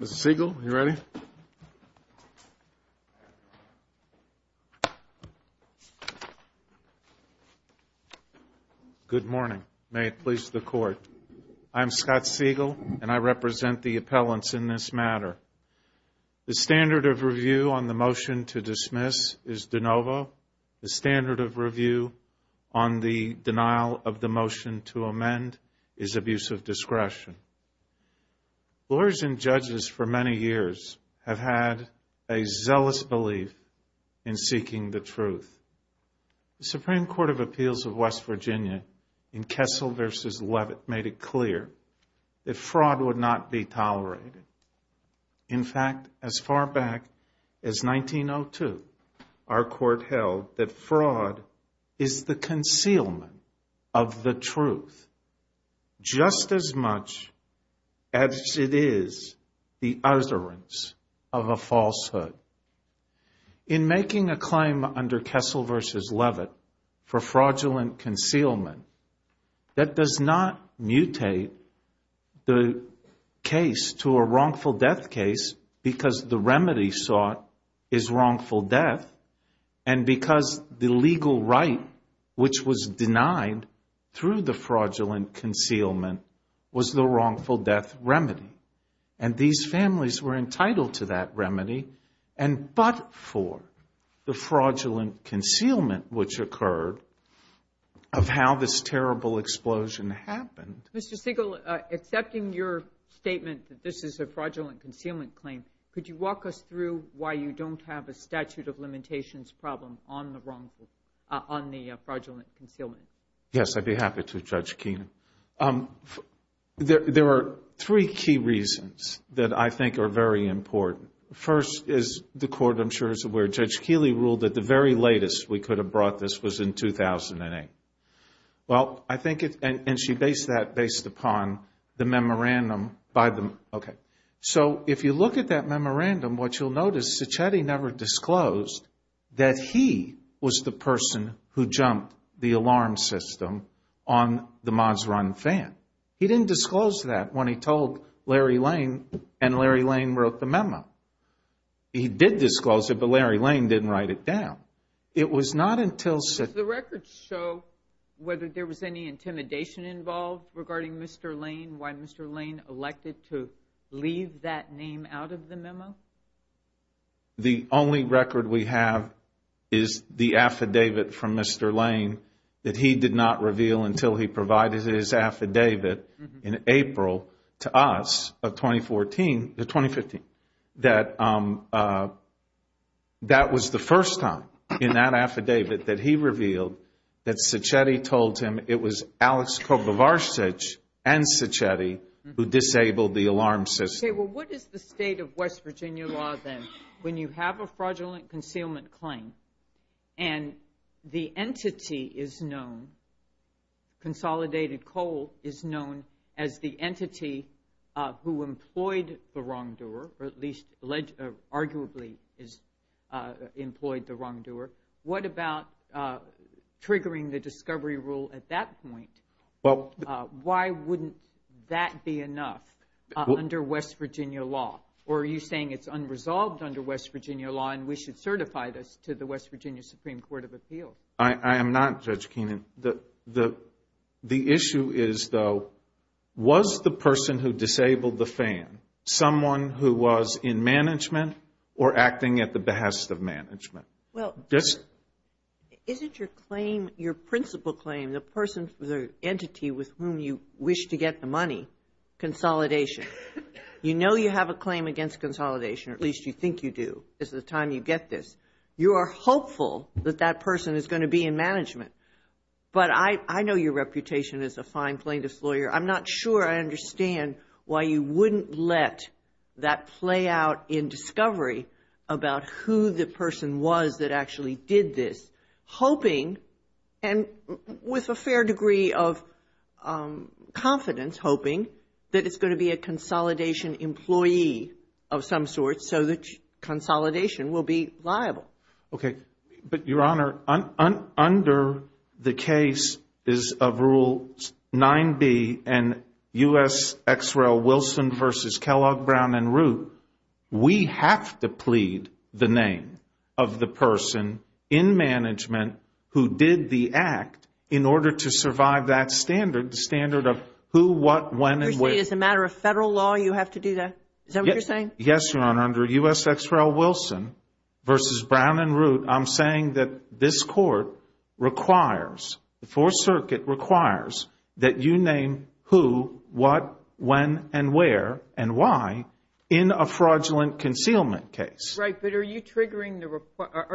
Mr. Siegel, are you ready? Good morning. May it please the Court. I'm Scott Siegel, and I represent the appellants in this matter. The standard of review on the motion to dismiss is de novo. The standard of review on the denial of the motion to amend is abuse of discretion. Lawyers and judges for many years have had a zealous belief in seeking the truth. The Supreme Court of Appeals of West Virginia in Kessel v. Levitt made it clear that fraud would not be tolerated. In fact, as far back as 1902, our Court held that fraud is the concealment of the truth just as much as it is the utterance of a falsehood. In making a claim under Kessel v. Levitt for fraudulent concealment, that does not mutate the case to a wrongful death case because the remedy sought is wrongful death and because the legal right which was denied through the fraudulent concealment was the wrongful death remedy. And these families were entitled to that remedy and but for the fraudulent concealment which occurred of how this terrible explosion happened. Mr. Siegel, accepting your statement that this is a fraudulent concealment claim, could you walk us through why you don't have a statute of limitations problem on the fraudulent concealment? Yes, I'd be happy to, Judge Keenan. There are three key reasons that I think are very important. First, as the Court, I'm sure, is aware, Judge Keeley ruled that the very latest we could have brought this was in 2008. Well, I think, and she based that based upon the memorandum by the, okay. He didn't disclose that when he told Larry Lane and Larry Lane wrote the memo. He did disclose it, but Larry Lane didn't write it down. It was not until... Does the record show whether there was any intimidation involved regarding Mr. Lane, why Mr. Lane elected to leave that name out of the memo? The only record we have is the affidavit from Mr. Lane that he did not reveal until he provided his affidavit in April to us of 2014, 2015, that that was the first time in that affidavit that he revealed that Sacchetti told him it was Alex Kovovarsich and Sacchetti who disabled the alarm system. Okay, well, what is the state of West Virginia law then? When you have a fraudulent concealment claim and the entity is known, consolidated coal is known as the entity who employed the wrongdoer, or at least arguably employed the wrongdoer, what about triggering the discovery rule at that point? Why wouldn't that be enough under West Virginia law? Or are you saying it's unresolved under West Virginia law and we should certify this to the West Virginia Supreme Court of Appeals? I am not, Judge Keenan. The issue is, though, was the person who disabled the fan someone who was in management or acting at the behest of management? Well, isn't your claim, your principal claim, the person, the entity with whom you wish to get the money consolidation? You know you have a claim against consolidation, or at least you think you do at the time you get this. You are hopeful that that person is going to be in management. I'm not sure I understand why you wouldn't let that play out in discovery about who the person was that actually did this, hoping, and with a fair degree of confidence, hoping that it's going to be a consolidation employee of some sort so that consolidation will be liable. Okay. But, Your Honor, under the case of Rule 9B and U.S. X. Rel. Wilson v. Kellogg, Brown, and Root, we have to plead the name of the person in management who did the act in order to survive that standard, the standard of who, what, when, and where. You're saying as a matter of federal law you have to do that? Is that what you're saying? Yes, Your Honor. Under U.S. X. Rel. Wilson v. Brown and Root, I'm saying that this Court requires, the Fourth Circuit requires, that you name who, what, when, and where, and why in a fraudulent concealment case. Right. But are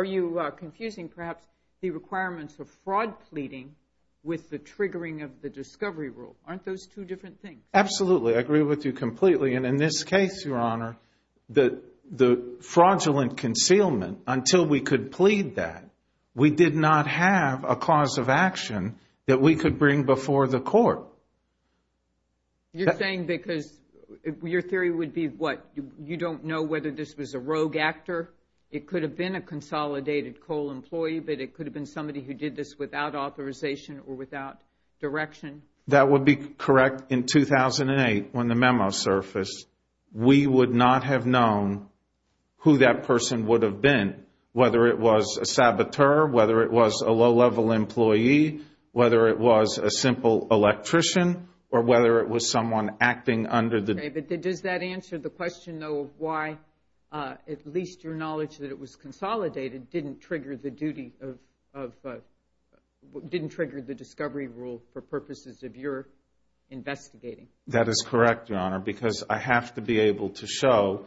you confusing perhaps the requirements of fraud pleading with the triggering of the discovery rule? Aren't those two different things? Absolutely. I agree with you completely. And in this case, Your Honor, the fraudulent concealment, until we could plead that, we did not have a cause of action that we could bring before the Court. You're saying because your theory would be, what, you don't know whether this was a rogue actor? It could have been a consolidated coal employee, but it could have been somebody who did this without authorization or without direction? That would be correct. In 2008, when the memo surfaced, we would not have known who that person would have been, whether it was a saboteur, whether it was a low-level employee, whether it was a simple electrician, or whether it was someone acting under the- Okay, but does that answer the question, though, why at least your knowledge that it was consolidated didn't trigger the discovery rule for purposes of your investigating? That is correct, Your Honor, because I have to be able to show,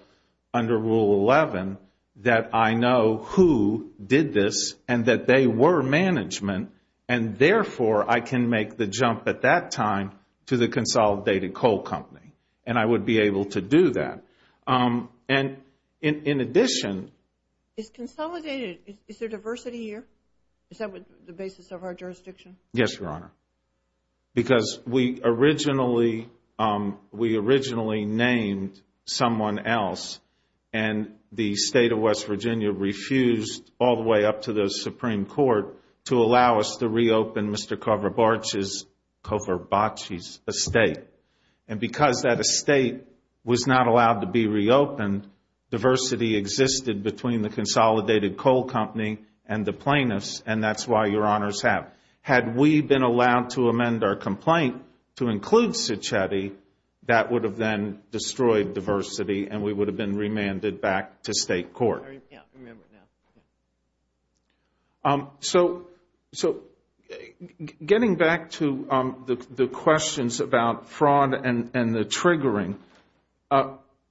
under Rule 11, that I know who did this and that they were management, and therefore I can make the jump at that time to the consolidated coal company, and I would be able to do that. And in addition- Is consolidated, is there diversity here? Is that the basis of our jurisdiction? Yes, Your Honor, because we originally named someone else, and the State of West Virginia refused, all the way up to the Supreme Court, to allow us to reopen Mr. Coverbatch's estate. And because that estate was not allowed to be reopened, diversity existed between the consolidated coal company and the plaintiffs, and that's why Your Honors have. Had we been allowed to amend our complaint to include Cecchetti, that would have then destroyed diversity, and we would have been remanded back to State court. Yeah, I remember now. So getting back to the questions about fraud and the triggering,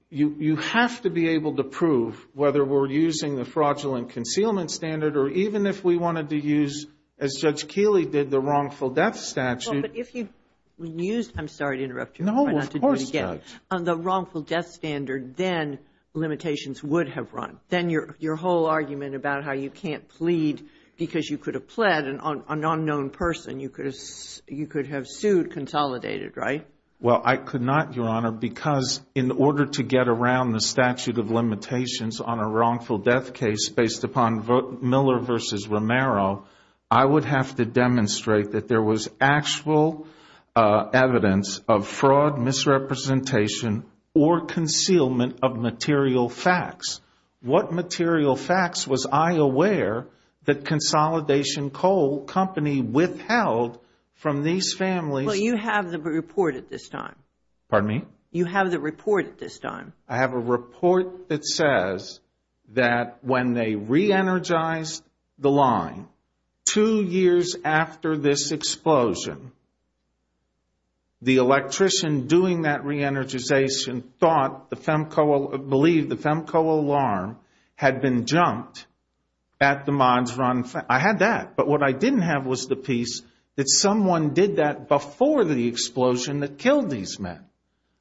you have to be able to prove whether we're using the fraudulent concealment standard, or even if we wanted to use, as Judge Keeley did, the wrongful death statute- Well, but if you used-I'm sorry to interrupt you. No, of course not. On the wrongful death standard, then limitations would have run. Then your whole argument about how you can't plead because you could have pled an unknown person, you could have sued consolidated, right? Well, I could not, Your Honor, because in order to get around the statute of limitations on a wrongful death case based upon Miller v. Romero, I would have to demonstrate that there was actual evidence of fraud, misrepresentation, or concealment of material facts. What material facts was I aware that Consolidation Coal Company withheld from these families- Well, you have the report at this time. Pardon me? You have the report at this time. I have a report that says that when they re-energized the line, two years after this explosion, the electrician doing that re-energization thought the Femco-believed the Femco alarm had been jumped at the Mons Run. I had that. But what I didn't have was the piece that someone did that before the explosion that killed these men.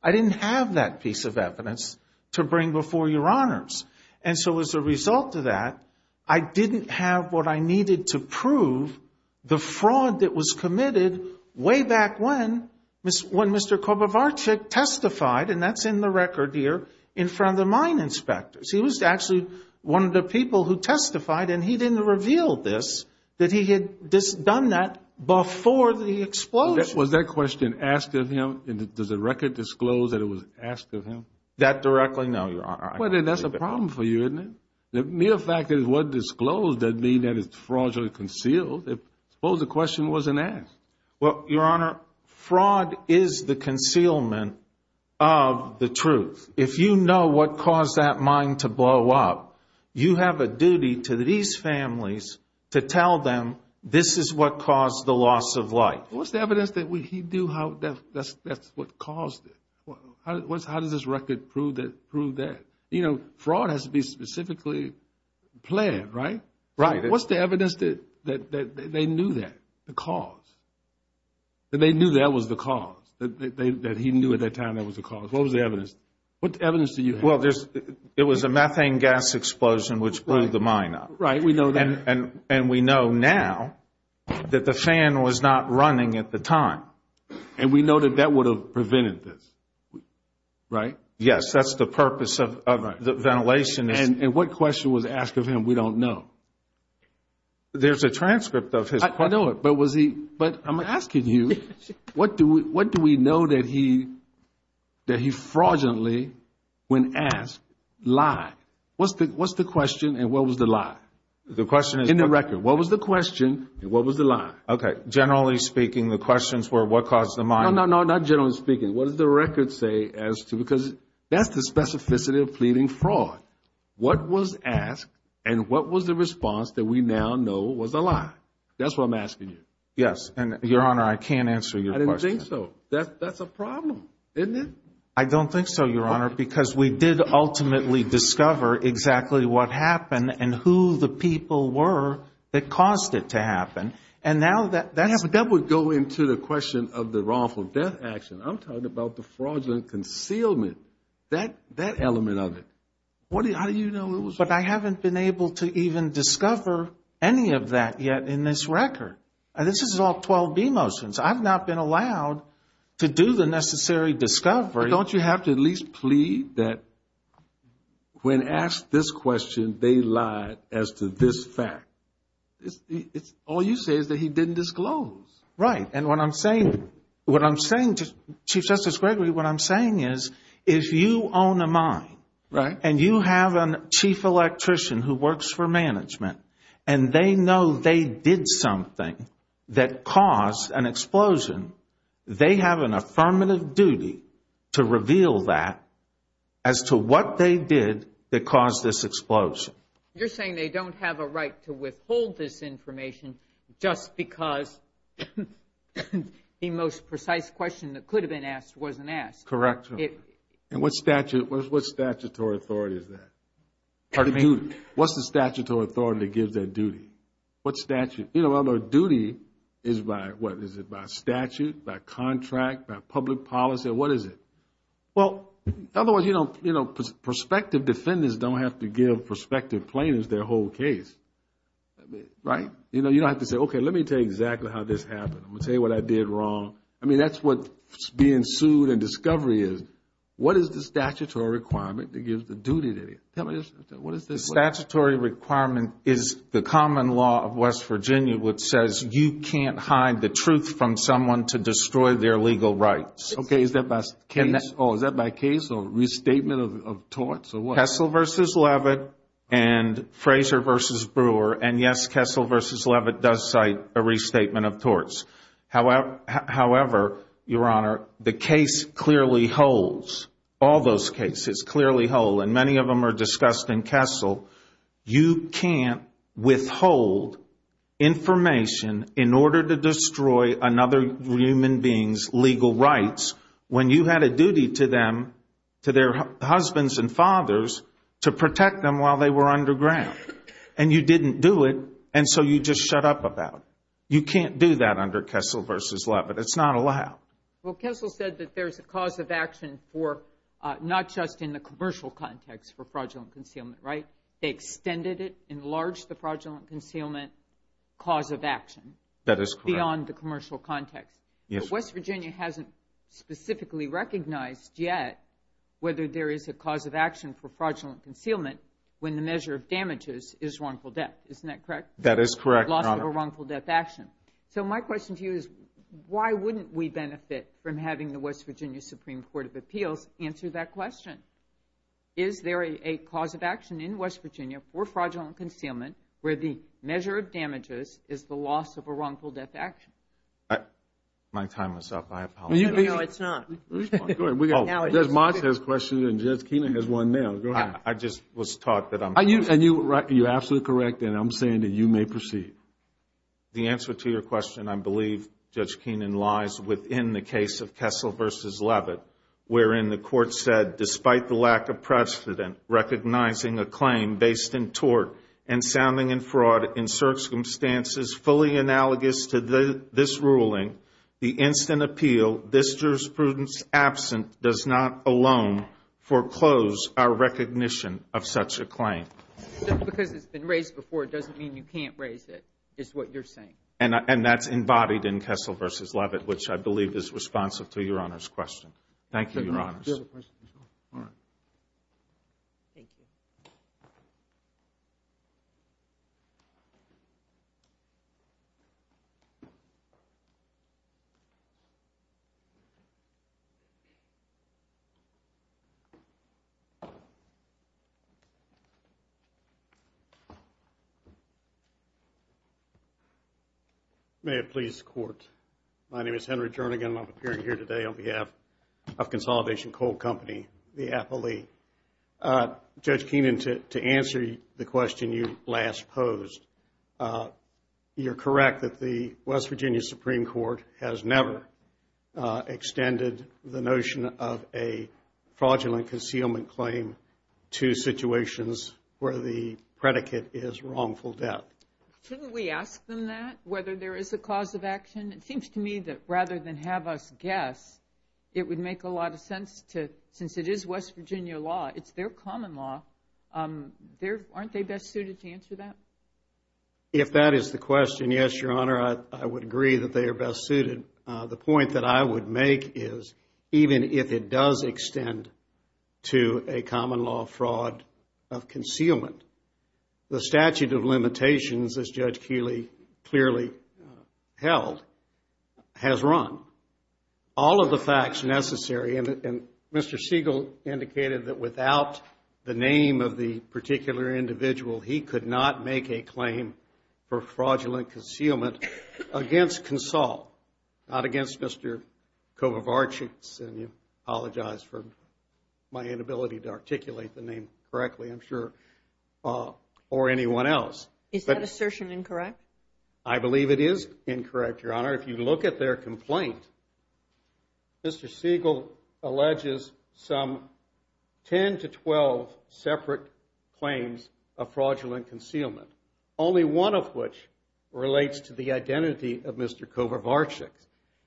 I didn't have that piece of evidence to bring before Your Honors. And so as a result of that, I didn't have what I needed to prove the fraud that was committed way back when Mr. Kobovarchuk testified, and that's in the record here, in front of the mine inspectors. He was actually one of the people who testified, and he didn't reveal this, that he had done that before the explosion. Was that question asked of him? Does the record disclose that it was asked of him? That directly? I don't know, Your Honor. Well, then that's a problem for you, isn't it? The mere fact that it was disclosed doesn't mean that it's fraudulently concealed. Suppose the question wasn't asked. Well, Your Honor, fraud is the concealment of the truth. If you know what caused that mine to blow up, you have a duty to these families to tell them this is what caused the loss of life. What's the evidence that he knew how that's what caused it? How does this record prove that? You know, fraud has to be specifically planned, right? Right. What's the evidence that they knew that, the cause, that they knew that was the cause, that he knew at that time that was the cause? What was the evidence? What evidence do you have? Well, it was a methane gas explosion which blew the mine up. Right. We know that. And we know now that the fan was not running at the time, and we know that that would have prevented this. Right? Yes, that's the purpose of ventilation. And what question was asked of him we don't know. There's a transcript of his question. I know it, but I'm asking you, what do we know that he fraudulently, when asked, lied? What's the question and what was the lie? The question is... In the record, what was the question and what was the lie? Okay, generally speaking, the questions were what caused the mine... No, no, no, not generally speaking. What does the record say as to, because that's the specificity of pleading fraud. What was asked and what was the response that we now know was a lie? That's what I'm asking you. Yes, and, Your Honor, I can't answer your question. I didn't think so. That's a problem, isn't it? I don't think so, Your Honor, because we did ultimately discover exactly what happened and who the people were that caused it to happen. And now that's... That would go into the question of the wrongful death action. I'm talking about the fraudulent concealment, that element of it. How do you know it was... But I haven't been able to even discover any of that yet in this record. This is all 12b motions. I've not been allowed to do the necessary discovery. Don't you have to at least plead that when asked this question, they lied as to this fact? All you say is that he didn't disclose. Right, and what I'm saying to Chief Justice Gregory, what I'm saying is if you own a mine and you have a chief electrician who works for management and they know they did something that caused an explosion, they have an affirmative duty to reveal that as to what they did that caused this explosion. You're saying they don't have a right to withhold this information just because the most precise question that could have been asked wasn't asked. Correct, Your Honor. And what statutory authority is that? Pardon me? What's the statutory authority that gives that duty? What statute? You know, a duty is by what? Is it by statute, by contract, by public policy? What is it? Well, otherwise, you know, prospective defendants don't have to give prospective plaintiffs their whole case. Right? You know, you don't have to say, okay, let me tell you exactly how this happened. I'm going to tell you what I did wrong. I mean, that's what being sued and discovery is. What is the statutory requirement that gives the duty? The statutory requirement is the common law of West Virginia which says you can't hide the truth from someone to destroy their legal rights. Okay, is that by case or restatement of torts or what? Kessel v. Leavitt and Fraser v. Brewer, and yes, Kessel v. Leavitt does cite a restatement of torts. However, Your Honor, the case clearly holds. All those cases clearly hold, and many of them are discussed in Kessel. You can't withhold information in order to destroy another human being's legal rights when you had a duty to them, to their husbands and fathers, to protect them while they were underground. And you didn't do it, and so you just shut up about it. You can't do that under Kessel v. Leavitt. It's not allowed. Well, Kessel said that there's a cause of action for not just in the commercial context for fraudulent concealment, right? They extended it, enlarged the fraudulent concealment cause of action. That is correct. Beyond the commercial context. Yes. But West Virginia hasn't specifically recognized yet whether there is a cause of action for fraudulent concealment when the measure of damages is wrongful death. Isn't that correct? That is correct, Your Honor. The loss of a wrongful death action. So my question to you is why wouldn't we benefit from having the West Virginia Supreme Court of Appeals answer that question? Is there a cause of action in West Virginia for fraudulent concealment where the measure of damages is the loss of a wrongful death action? My time is up. I apologize. No, it's not. Go ahead. Jez Moss has a question, and Jez Keener has one now. Go ahead. I just was taught that I'm supposed to. You're absolutely correct, and I'm saying that you may proceed. The answer to your question, I believe, Judge Keenan, lies within the case of Kessel v. Levitt, wherein the court said, despite the lack of precedent recognizing a claim based in tort and sounding in fraud in circumstances fully analogous to this ruling, the instant appeal, this jurisprudence absent, does not alone foreclose our recognition of such a claim. Because it's been raised before, it doesn't mean you can't raise it, is what you're saying. And that's embodied in Kessel v. Levitt, which I believe is responsive to Your Honor's question. Thank you, Your Honors. Do you have a question? All right. Thank you. May it please the Court. My name is Henry Jernigan, and I'm appearing here today on behalf of Consolidation Coal Company, the Appellee. Judge Keenan, to answer the question you last posed, you're correct that the West Virginia Supreme Court has never extended the notion of a fraudulent concealment claim to situations where the predicate is wrongful death. Shouldn't we ask them that, whether there is a cause of action? It seems to me that rather than have us guess, it would make a lot of sense to, since it is West Virginia law, it's their common law, aren't they best suited to answer that? If that is the question, yes, Your Honor, I would agree that they are best suited. The point that I would make is, even if it does extend to a common law fraud of concealment, the statute of limitations, as Judge Keeley clearly held, has run. All of the facts necessary, and Mr. Siegel indicated that without the name of the particular individual, he could not make a claim for fraudulent concealment against Consol, not against Mr. Kovovarchik, and I apologize for my inability to articulate the name correctly, I'm sure, or anyone else. Is that assertion incorrect? I believe it is incorrect, Your Honor. If you look at their complaint, Mr. Siegel alleges some 10 to 12 separate claims of fraudulent concealment, only one of which relates to the identity of Mr. Kovovarchik.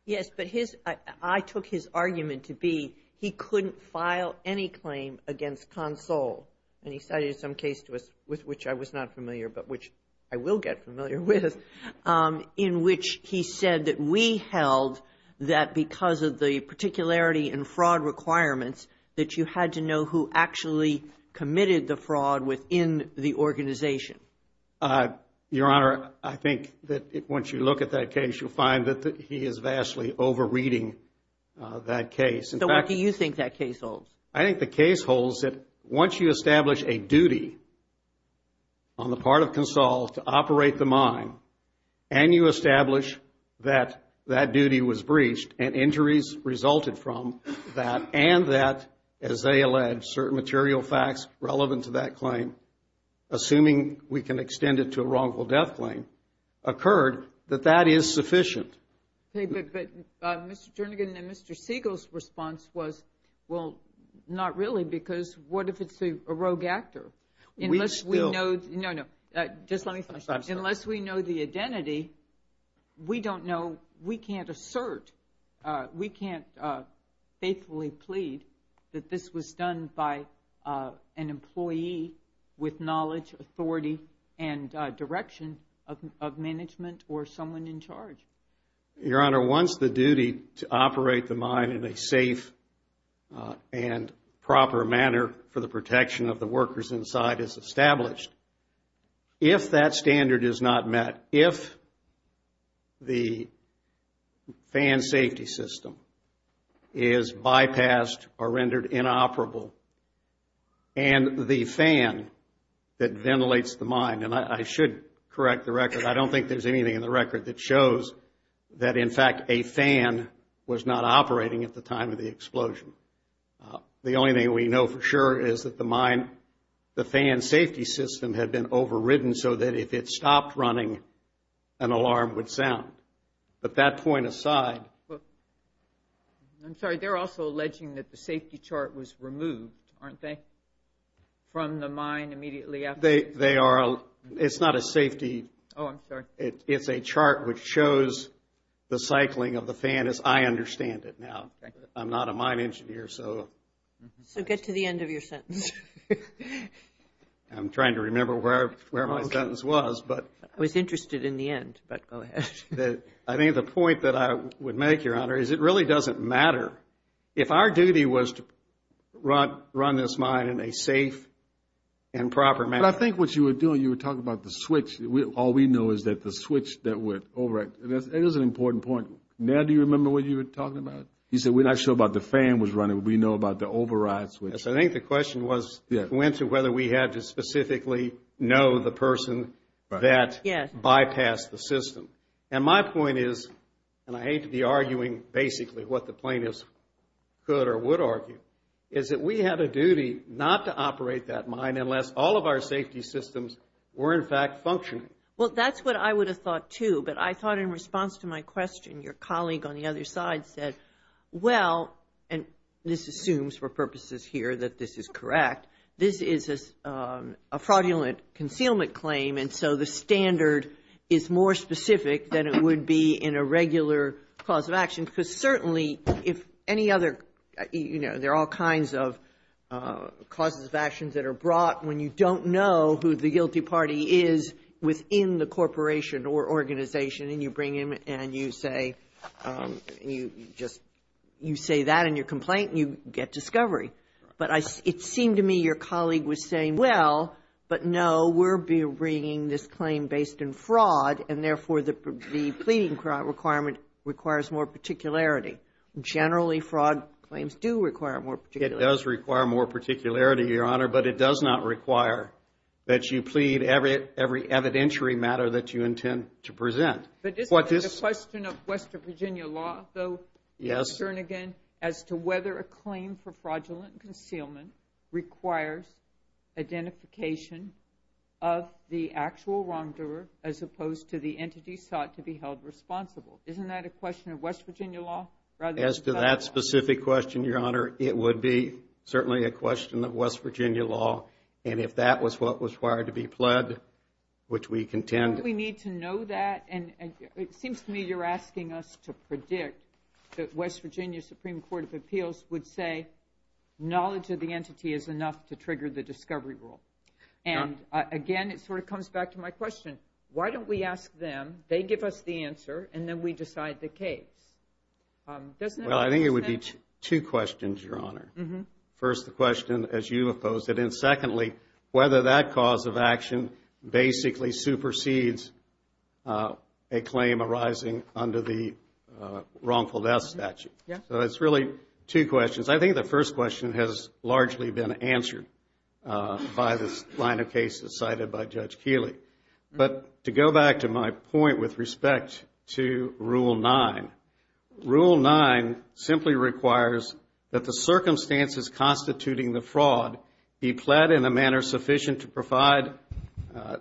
Yes, but his, I took his argument to be he couldn't file any claim against Consol, and he cited some case to us with which I was not familiar, but which I will get familiar with, in which he said that we held that because of the particularity and fraud requirements, that you had to know who actually committed the fraud within the organization. Your Honor, I think that once you look at that case, you'll find that he is vastly over-reading that case. So what do you think that case holds? I think the case holds that once you establish a duty on the part of Consol to operate the mine, and you establish that that duty was breached and injuries resulted from that, and that, as they allege, certain material facts relevant to that claim, assuming we can extend it to a wrongful death claim, occurred, that that is sufficient. But Mr. Jernigan and Mr. Siegel's response was, well, not really, because what if it's a rogue actor? Unless we know the identity, we don't know. We can't assert, we can't faithfully plead that this was done by an employee with knowledge, authority, and direction of management or someone in charge. Your Honor, once the duty to operate the mine in a safe and proper manner for the protection of the workers inside is established, if that standard is not met, if the fan safety system is bypassed or rendered inoperable, and the fan that ventilates the mine, and I should correct the record. I don't think there's anything in the record that shows that, in fact, a fan was not operating at the time of the explosion. The only thing we know for sure is that the mine, the fan safety system had been overridden so that if it stopped running, an alarm would sound. But that point aside. I'm sorry, they're also alleging that the safety chart was removed, aren't they, from the mine immediately after? They are. It's not a safety. Oh, I'm sorry. It's a chart which shows the cycling of the fan as I understand it now. Okay. I'm not a mine engineer, so. So get to the end of your sentence. I'm trying to remember where my sentence was, but. I was interested in the end, but go ahead. I think the point that I would make, Your Honor, is it really doesn't matter. If our duty was to run this mine in a safe and proper manner. But I think what you were doing, you were talking about the switch. All we know is that the switch that went over it. That is an important point. Ned, do you remember what you were talking about? You said we're not sure about the fan was running, but we know about the override switch. Yes, I think the question went to whether we had to specifically know the person that bypassed the system. And my point is, and I hate to be arguing basically what the plaintiffs could or would argue, is that we had a duty not to operate that mine unless all of our safety systems were, in fact, functioning. Well, that's what I would have thought, too. But I thought in response to my question, your colleague on the other side said, well, and this assumes for purposes here that this is correct, this is a fraudulent concealment claim, and so the standard is more specific than it would be in a regular cause of action. Because certainly if any other, you know, there are all kinds of causes of actions that are brought when you don't know who the guilty party is within the corporation or organization, and you bring him and you say, you just, you say that in your complaint and you get discovery. But it seemed to me your colleague was saying, well, but no, we're bringing this claim based in fraud, and therefore the pleading requirement requires more particularity. Generally, fraud claims do require more particularity. It does require more particularity, Your Honor, but it does not require that you plead every evidentiary matter that you intend to present. But isn't it a question of West Virginia law, though? Yes. As to whether a claim for fraudulent concealment requires identification of the actual wrongdoer as opposed to the entity sought to be held responsible. Isn't that a question of West Virginia law? As to that specific question, Your Honor, it would be certainly a question of West Virginia law. And if that was what was required to be pled, which we contend. Don't we need to know that? And it seems to me you're asking us to predict that West Virginia Supreme Court of Appeals would say knowledge of the entity is enough to trigger the discovery rule. And, again, it sort of comes back to my question. Why don't we ask them, they give us the answer, and then we decide the case? Well, I think it would be two questions, Your Honor. First, the question as you have posed it. And, secondly, whether that cause of action basically supersedes a claim arising under the wrongful death statute. So it's really two questions. I think the first question has largely been answered by this line of cases cited by Judge Keeley. But to go back to my point with respect to Rule 9, Rule 9 simply requires that the circumstances constituting the fraud be pled in a manner sufficient to provide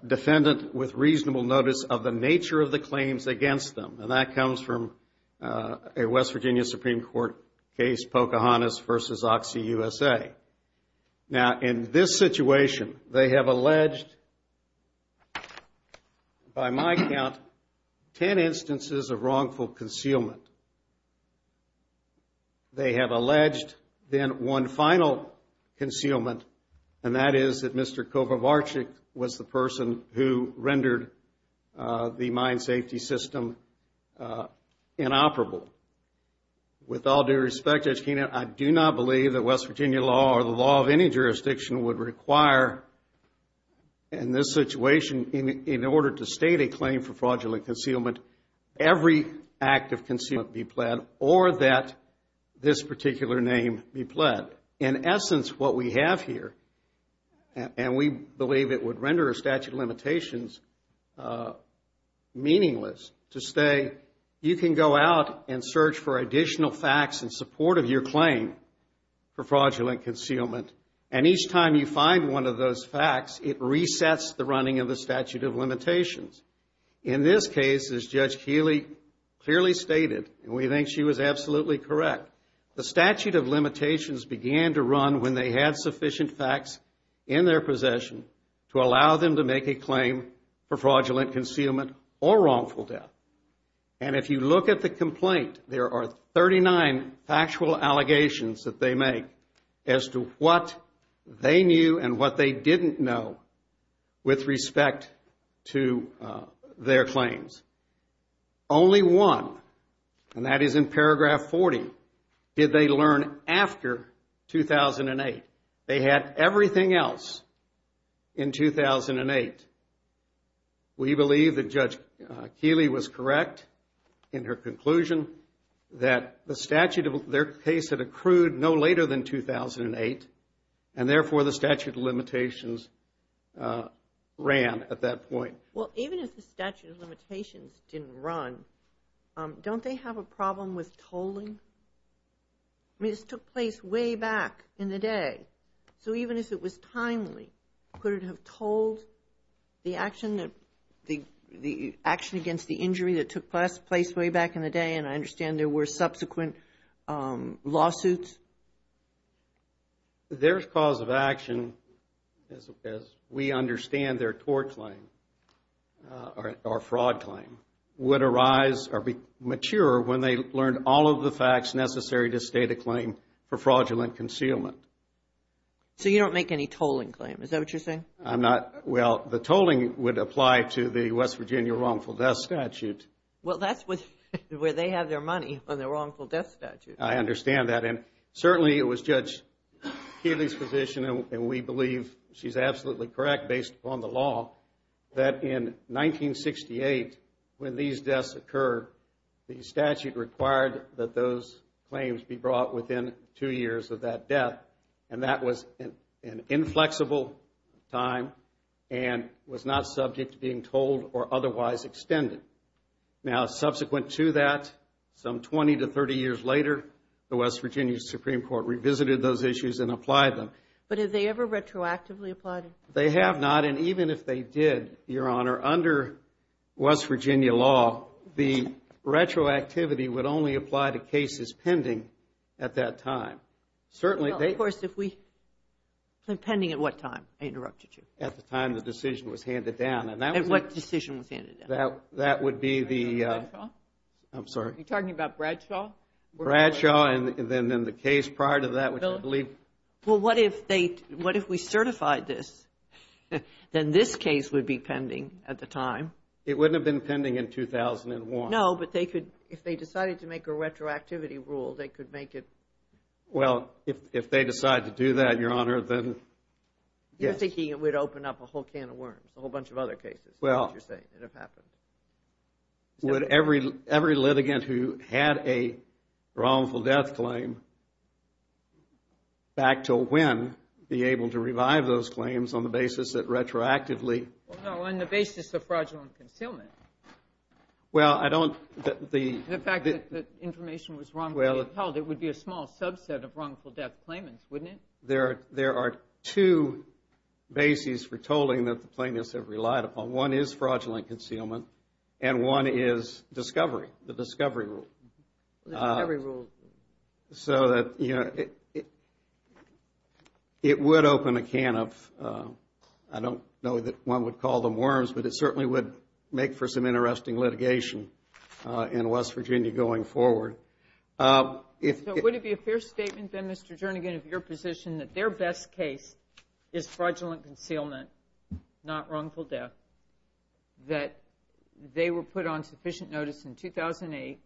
defendant with reasonable notice of the nature of the claims against them. And that comes from a West Virginia Supreme Court case, Pocahontas v. OxyUSA. Now, in this situation, they have alleged, by my count, ten instances of wrongful concealment. They have alleged then one final concealment, and that is that Mr. Kovarvarchik was the person who rendered the mine safety system inoperable. With all due respect, Judge Keenan, I do not believe that West Virginia law or the law of any jurisdiction would require, in this situation, in order to state a claim for fraudulent concealment, every act of concealment be pled or that this particular name be pled. In essence, what we have here, and we believe it would render a statute of limitations meaningless, to say you can go out and search for additional facts in support of your claim for fraudulent concealment, and each time you find one of those facts, it resets the running of the statute of limitations. In this case, as Judge Keeley clearly stated, and we think she was absolutely correct, the statute of limitations began to run when they had sufficient facts in their possession to allow them to make a claim for fraudulent concealment or wrongful death. And if you look at the complaint, there are 39 factual allegations that they make as to what they knew and what they didn't know with respect to their claims. Only one, and that is in paragraph 40, did they learn after 2008. They had everything else in 2008. We believe that Judge Keeley was correct in her conclusion that the statute of their case had accrued no later than 2008, and therefore the statute of limitations ran at that point. Well, even if the statute of limitations didn't run, don't they have a problem with tolling? I mean, this took place way back in the day, so even if it was timely, could it have tolled the action against the injury that took place way back in the day, and I understand there were subsequent lawsuits? Their cause of action, as we understand their tort claim or fraud claim, would arise or mature when they learned all of the facts necessary to state a claim for fraudulent concealment. So you don't make any tolling claim, is that what you're saying? I'm not. Well, the tolling would apply to the West Virginia wrongful death statute. Well, that's where they have their money, on the wrongful death statute. I understand that, and certainly it was Judge Keeley's position, and we believe she's absolutely correct based upon the law, that in 1968, when these deaths occurred, the statute required that those claims be brought within two years of that death, and that was an inflexible time and was not subject to being tolled or otherwise extended. Now, subsequent to that, some 20 to 30 years later, the West Virginia Supreme Court revisited those issues and applied them. But have they ever retroactively applied them? They have not, and even if they did, Your Honor, under West Virginia law, the retroactivity would only apply to cases pending at that time. Well, of course, pending at what time? I interrupted you. At the time the decision was handed down. At what decision was handed down? That would be the – Bradshaw? I'm sorry? Are you talking about Bradshaw? Bradshaw, and then the case prior to that, which I believe – Well, what if they – what if we certified this? Then this case would be pending at the time. It wouldn't have been pending in 2001. No, but they could – if they decided to make a retroactivity rule, they could make it – Well, if they decide to do that, Your Honor, then yes. You're thinking it would open up a whole can of worms, a whole bunch of other cases, as you're saying, that have happened. Would every litigant who had a wrongful death claim back to when be able to revive those claims on the basis that retroactively – No, on the basis of fraudulent concealment. Well, I don't – The fact that information was wrongfully upheld, it would be a small subset of wrongful death claimants, wouldn't it? There are two bases for tolling that the plaintiffs have relied upon. One is fraudulent concealment and one is discovery, the discovery rule. The discovery rule. So that, you know, it would open a can of – I don't know that one would call them worms, but it certainly would make for some interesting litigation in West Virginia going forward. So would it be a fair statement, then, Mr. Jernigan, of your position that their best case is fraudulent concealment, not wrongful death, that they were put on sufficient notice in 2008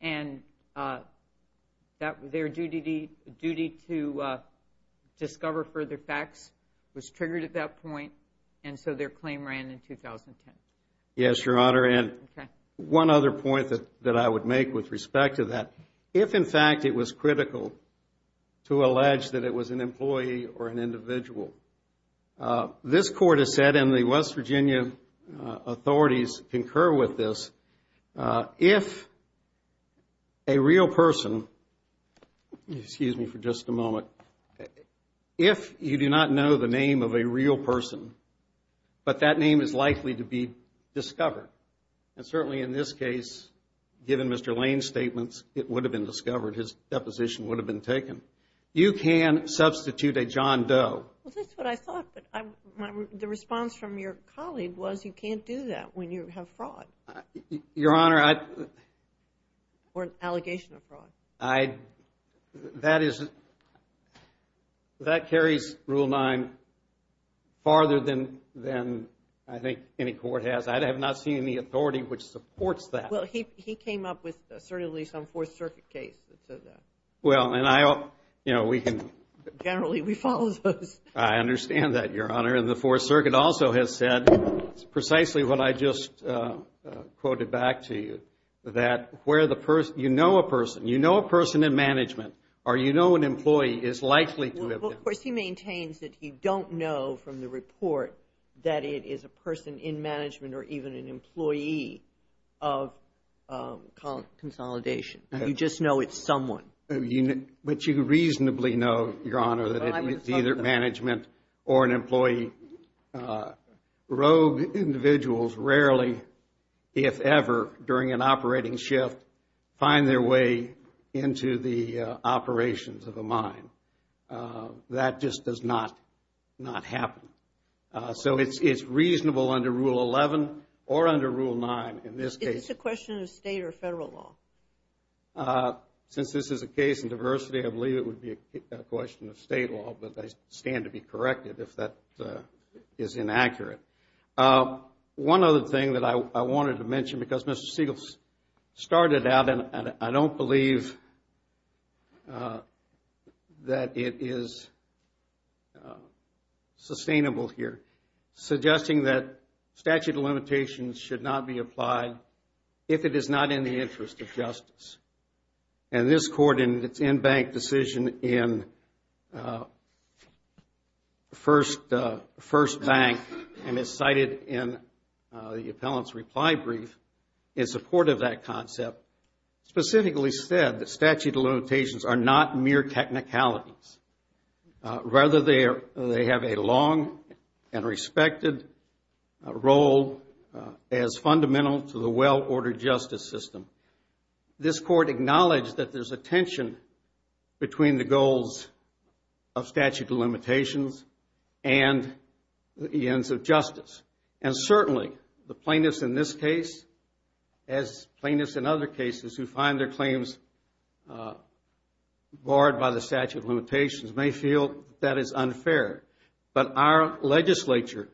and that their duty to discover further facts was triggered at that point and so their claim ran in 2010? Yes, Your Honor, and one other point that I would make with respect to that. If, in fact, it was critical to allege that it was an employee or an individual, this Court has said, and the West Virginia authorities concur with this, if a real person – excuse me for just a moment – if you do not know the name of a real person, but that name is likely to be discovered, and certainly in this case, given Mr. Lane's statements, it would have been discovered. His deposition would have been taken. You can substitute a John Doe. Well, that's what I thought, but the response from your colleague was you can't do that when you have fraud. Your Honor, I – Or an allegation of fraud. I – that is – that carries Rule 9 farther than I think any court has. I have not seen any authority which supports that. Well, he came up with assertively some Fourth Circuit case that said that. Well, and I – you know, we can – Generally, we follow those. I understand that, Your Honor, and the Fourth Circuit also has said precisely what I just quoted back to you, that where the – you know a person. You know a person in management or you know an employee is likely to have been. Well, of course, he maintains that he don't know from the report that it is a person in management or even an employee of Consolidation. You just know it's someone. But you reasonably know, Your Honor, that it's either management or an employee. Rogue individuals rarely, if ever, during an operating shift, that just does not happen. So it's reasonable under Rule 11 or under Rule 9 in this case. Is this a question of state or federal law? Since this is a case in diversity, I believe it would be a question of state law, but I stand to be corrected if that is inaccurate. One other thing that I wanted to mention, because Mr. Siegel started out, and I don't believe that it is sustainable here, suggesting that statute of limitations should not be applied if it is not in the interest of justice. And this court in its in-bank decision in First Bank and is cited in the appellant's reply brief in support of that concept, specifically said that statute of limitations are not mere technicalities. Rather, they have a long and respected role as fundamental to the well-ordered justice system. This court acknowledged that there's a tension between the goals of statute of limitations and the ends of justice. And certainly, the plaintiffs in this case, as plaintiffs in other cases who find their claims barred by the statute of limitations, may feel that is unfair. But our legislature,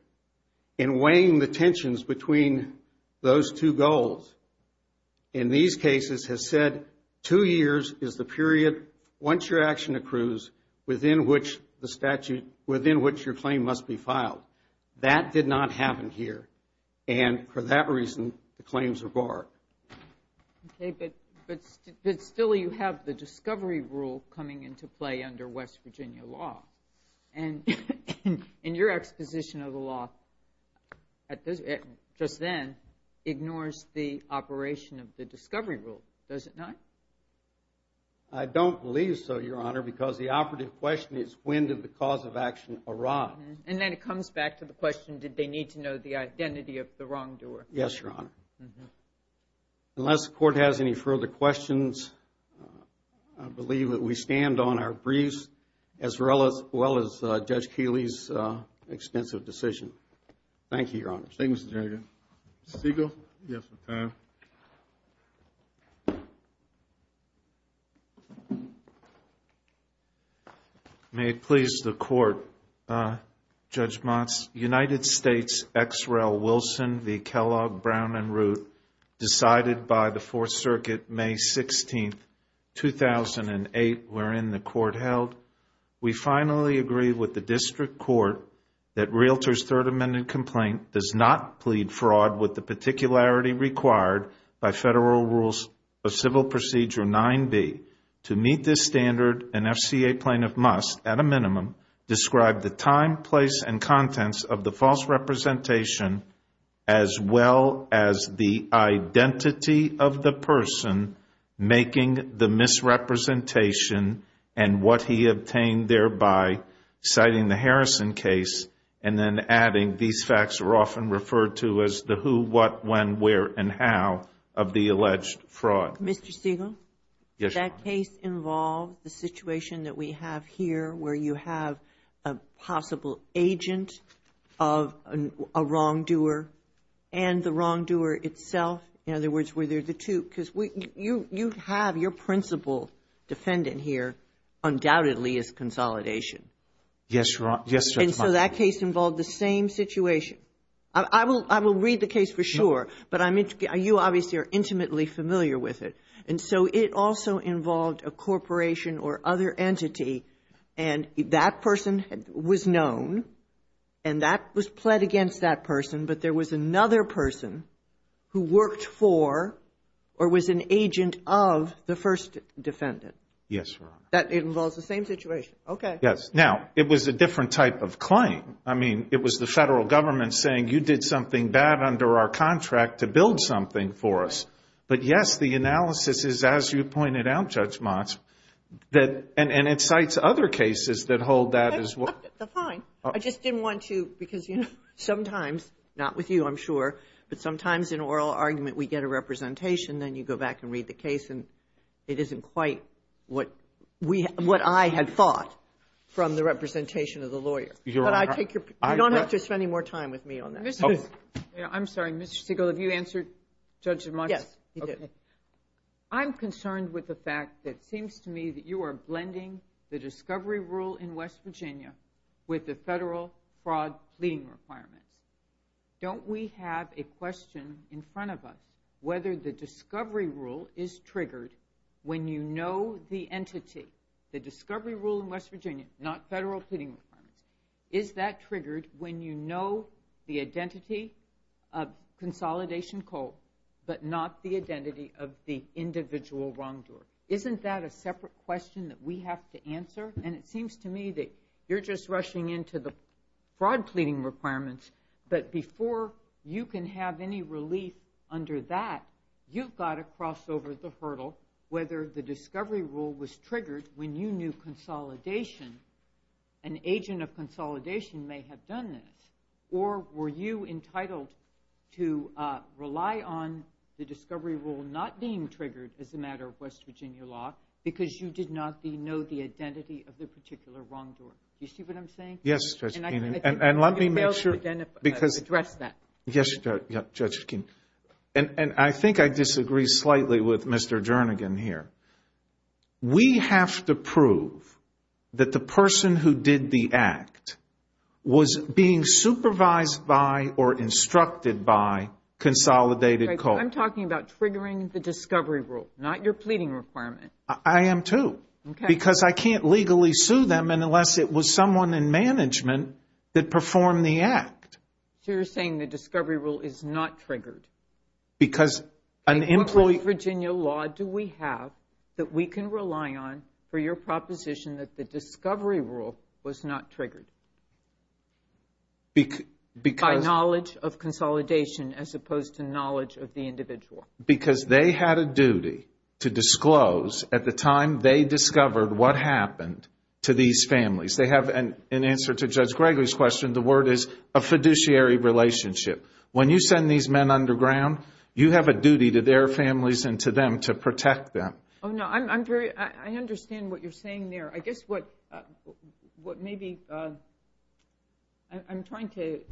in weighing the tensions between those two goals, in these cases has said, two years is the period once your action accrues within which your claim must be filed. That did not happen here. And for that reason, the claims are barred. Okay, but still you have the discovery rule coming into play under West Virginia law. And your exposition of the law just then ignores the operation of the discovery rule, does it not? I don't believe so, Your Honor, because the operative question is when did the cause of action arrive? And then it comes back to the question, did they need to know the identity of the wrongdoer? Yes, Your Honor. Unless the court has any further questions, I believe that we stand on our briefs as well as Judge Keeley's extensive decision. Thank you, Your Honor. Thank you, Mr. Chairman. Mr. Siegel? Yes, Your Honor. Thank you. May it please the Court, Judge Motz, United States X. Rel. Wilson v. Kellogg, Brown and Root decided by the Fourth Circuit May 16, 2008, wherein the Court held, we finally agree with the District Court that Realtor's Third Amendment complaint does not plead fraud with the particularity required by Federal Rules of Civil Procedure 9b. To meet this standard, an FCA plaintiff must, at a minimum, describe the time, place, and contents of the false representation as well as the identity of the person making the misrepresentation and what he obtained thereby, citing the Harrison case, and then adding, these facts are often referred to as the who, what, when, where, and how of the alleged fraud. Mr. Siegel? Yes, Your Honor. Does that case involve the situation that we have here where you have a possible agent of a wrongdoer and the wrongdoer itself? In other words, were there the two? Because you have your principal defendant here, undoubtedly, as consolidation. Yes, Your Honor. And so that case involved the same situation. I will read the case for sure, but you obviously are intimately familiar with it. And so it also involved a corporation or other entity, and that person was known and that was pled against that person, but there was another person who worked for or was an agent of the first defendant. Yes, Your Honor. That involves the same situation. Okay. Yes. Now, it was a different type of claim. I mean, it was the federal government saying, you did something bad under our contract to build something for us. But, yes, the analysis is, as you pointed out, Judge Motz, and it cites other cases that hold that as well. Fine. I just didn't want to, because, you know, sometimes, not with you, I'm sure, but sometimes in oral argument we get a representation, then you go back and read the case, and it isn't quite what I had thought from the representation of the lawyer. But I take your point. You don't have to spend any more time with me on that. I'm sorry. Mr. Siegel, have you answered Judge Motz? Yes. Okay. I'm concerned with the fact that it seems to me that you are blending the discovery rule in West Virginia with the federal fraud pleading requirements. Don't we have a question in front of us, whether the discovery rule is triggered when you know the entity, the discovery rule in West Virginia, not federal pleading requirements. Is that triggered when you know the identity of consolidation coal, but not the identity of the individual wrongdoer? And it seems to me that you're just rushing into the fraud pleading requirements, but before you can have any relief under that, you've got to cross over the hurdle whether the discovery rule was triggered when you knew consolidation, an agent of consolidation may have done this, or were you entitled to rely on the discovery rule not being triggered as a matter of West Virginia law, because you did not know the identity of the particular wrongdoer? Do you see what I'm saying? Yes, Judge Keenan. And let me make sure because. Address that. Yes, Judge Keenan. And I think I disagree slightly with Mr. Jernigan here. We have to prove that the person who did the act was being supervised by or instructed by consolidated coal. I'm talking about triggering the discovery rule, not your pleading requirement. I am, too, because I can't legally sue them unless it was someone in management that performed the act. So you're saying the discovery rule is not triggered. Because an employee. What West Virginia law do we have that we can rely on for your proposition that the discovery rule was not triggered by knowledge of consolidation as opposed to knowledge of the individual? Because they had a duty to disclose at the time they discovered what happened to these families. They have, in answer to Judge Gregory's question, the word is a fiduciary relationship. When you send these men underground, you have a duty to their families and to them to protect them. I understand what you're saying there. I guess what maybe I'm trying to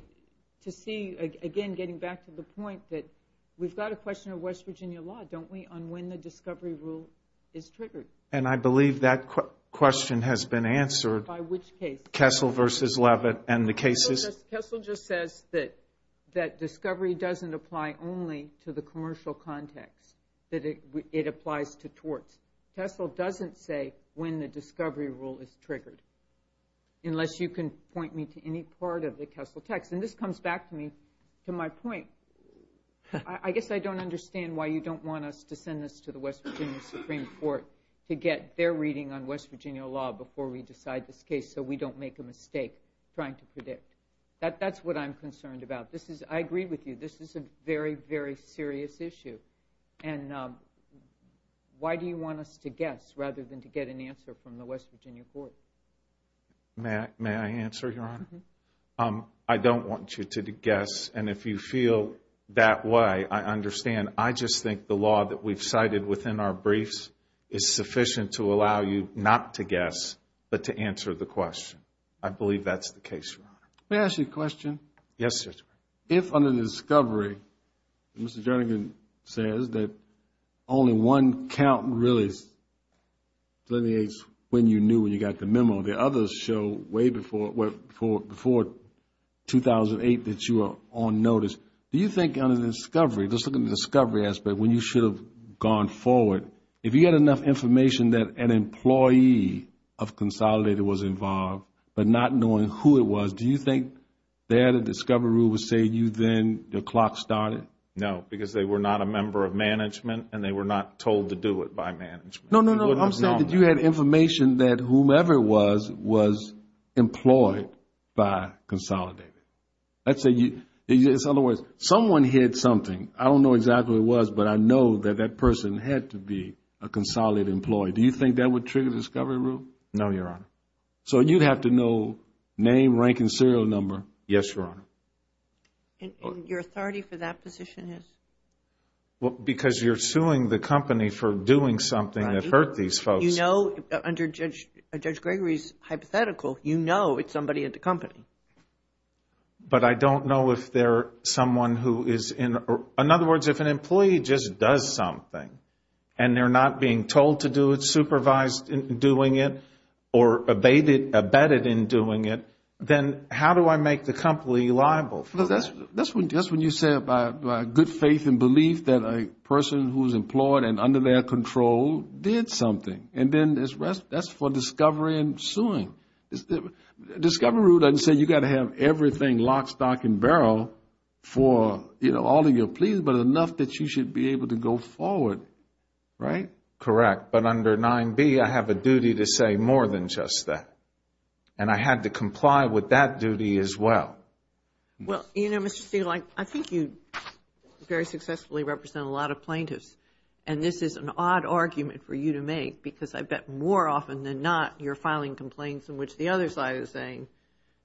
see, again, getting back to the point that we've got a question of West Virginia law, don't we, on when the discovery rule is triggered. And I believe that question has been answered. By which case? Kessel v. Levitt and the cases. Kessel just says that discovery doesn't apply only to the commercial context, that it applies to torts. Kessel doesn't say when the discovery rule is triggered, unless you can point me to any part of the Kessel text. And this comes back to my point. I guess I don't understand why you don't want us to send this to the West Virginia Supreme Court to get their reading on West Virginia law before we decide this case so we don't make a mistake trying to predict. That's what I'm concerned about. I agree with you. This is a very, very serious issue. And why do you want us to guess rather than to get an answer from the West Virginia court? May I answer, Your Honor? I don't want you to guess. And if you feel that way, I understand. I just think the law that we've cited within our briefs is sufficient to allow you not to guess but to answer the question. I believe that's the case, Your Honor. May I ask you a question? Yes, sir. If under the discovery, Mr. Jernigan says that only one count really delineates when you knew when you got the memo. The others show way before 2008 that you were on notice. Do you think under the discovery, just looking at the discovery aspect, when you should have gone forward, if you had enough information that an employee of Consolidated was involved but not knowing who it was, do you think there the discovery rule would say you then, the clock started? No, because they were not a member of management and they were not told to do it by management. No, no, no. I'm saying that you had information that whomever it was, was employed by Consolidated. In other words, someone hid something. I don't know exactly what it was, but I know that that person had to be a Consolidated employee. Do you think that would trigger the discovery rule? No, Your Honor. So you'd have to know name, rank, and serial number? Yes, Your Honor. Your authority for that position is? Because you're suing the company for doing something that hurt these folks. You know, under Judge Gregory's hypothetical, you know it's somebody at the company. But I don't know if they're someone who is in, in other words, if an employee just does something and they're not being told to do it, supervised in doing it, or abetted in doing it, then how do I make the company liable? That's when you say about good faith and belief that a person who's employed and under their control did something. And then that's for discovery and suing. The discovery rule doesn't say you've got to have everything lock, stock, and barrel for all of your pleas, but enough that you should be able to go forward, right? Correct. But under 9B, I have a duty to say more than just that. And I had to comply with that duty as well. Well, you know, Mr. Steele, I think you very successfully represent a lot of plaintiffs. And this is an odd argument for you to make because I bet more often than not you're filing complaints in which the other side is saying,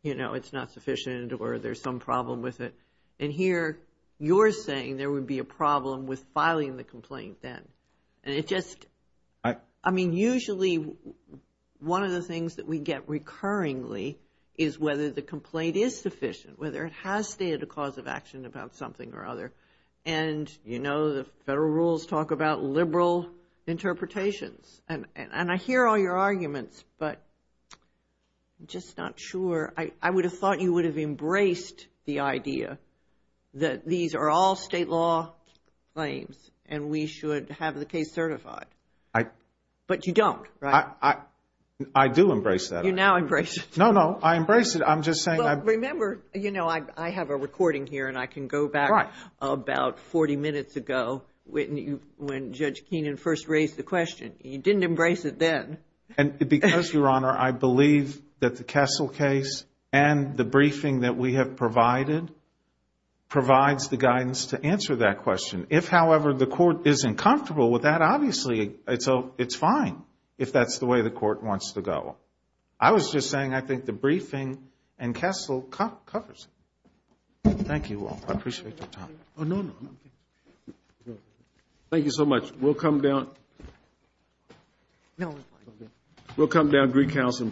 you know, it's not sufficient or there's some problem with it. And here you're saying there would be a problem with filing the complaint then. I mean, usually one of the things that we get recurringly is whether the complaint is sufficient, whether it has stated a cause of action about something or other. And, you know, the federal rules talk about liberal interpretations. And I hear all your arguments, but I'm just not sure. I would have thought you would have embraced the idea that these are all But you don't, right? I do embrace that. You now embrace it. No, no. I embrace it. I'm just saying. Well, remember, you know, I have a recording here and I can go back about 40 minutes ago when Judge Keenan first raised the question. He didn't embrace it then. And because, Your Honor, I believe that the Kessel case and the briefing that we have provided provides the guidance to answer that question. If, however, the court is uncomfortable with that, obviously it's fine if that's the way the court wants to go. I was just saying I think the briefing and Kessel covers it. Thank you all. I appreciate your time. Oh, no, no. Thank you so much. We'll come down. No, it's fine. We'll come down, Greek House, and proceed.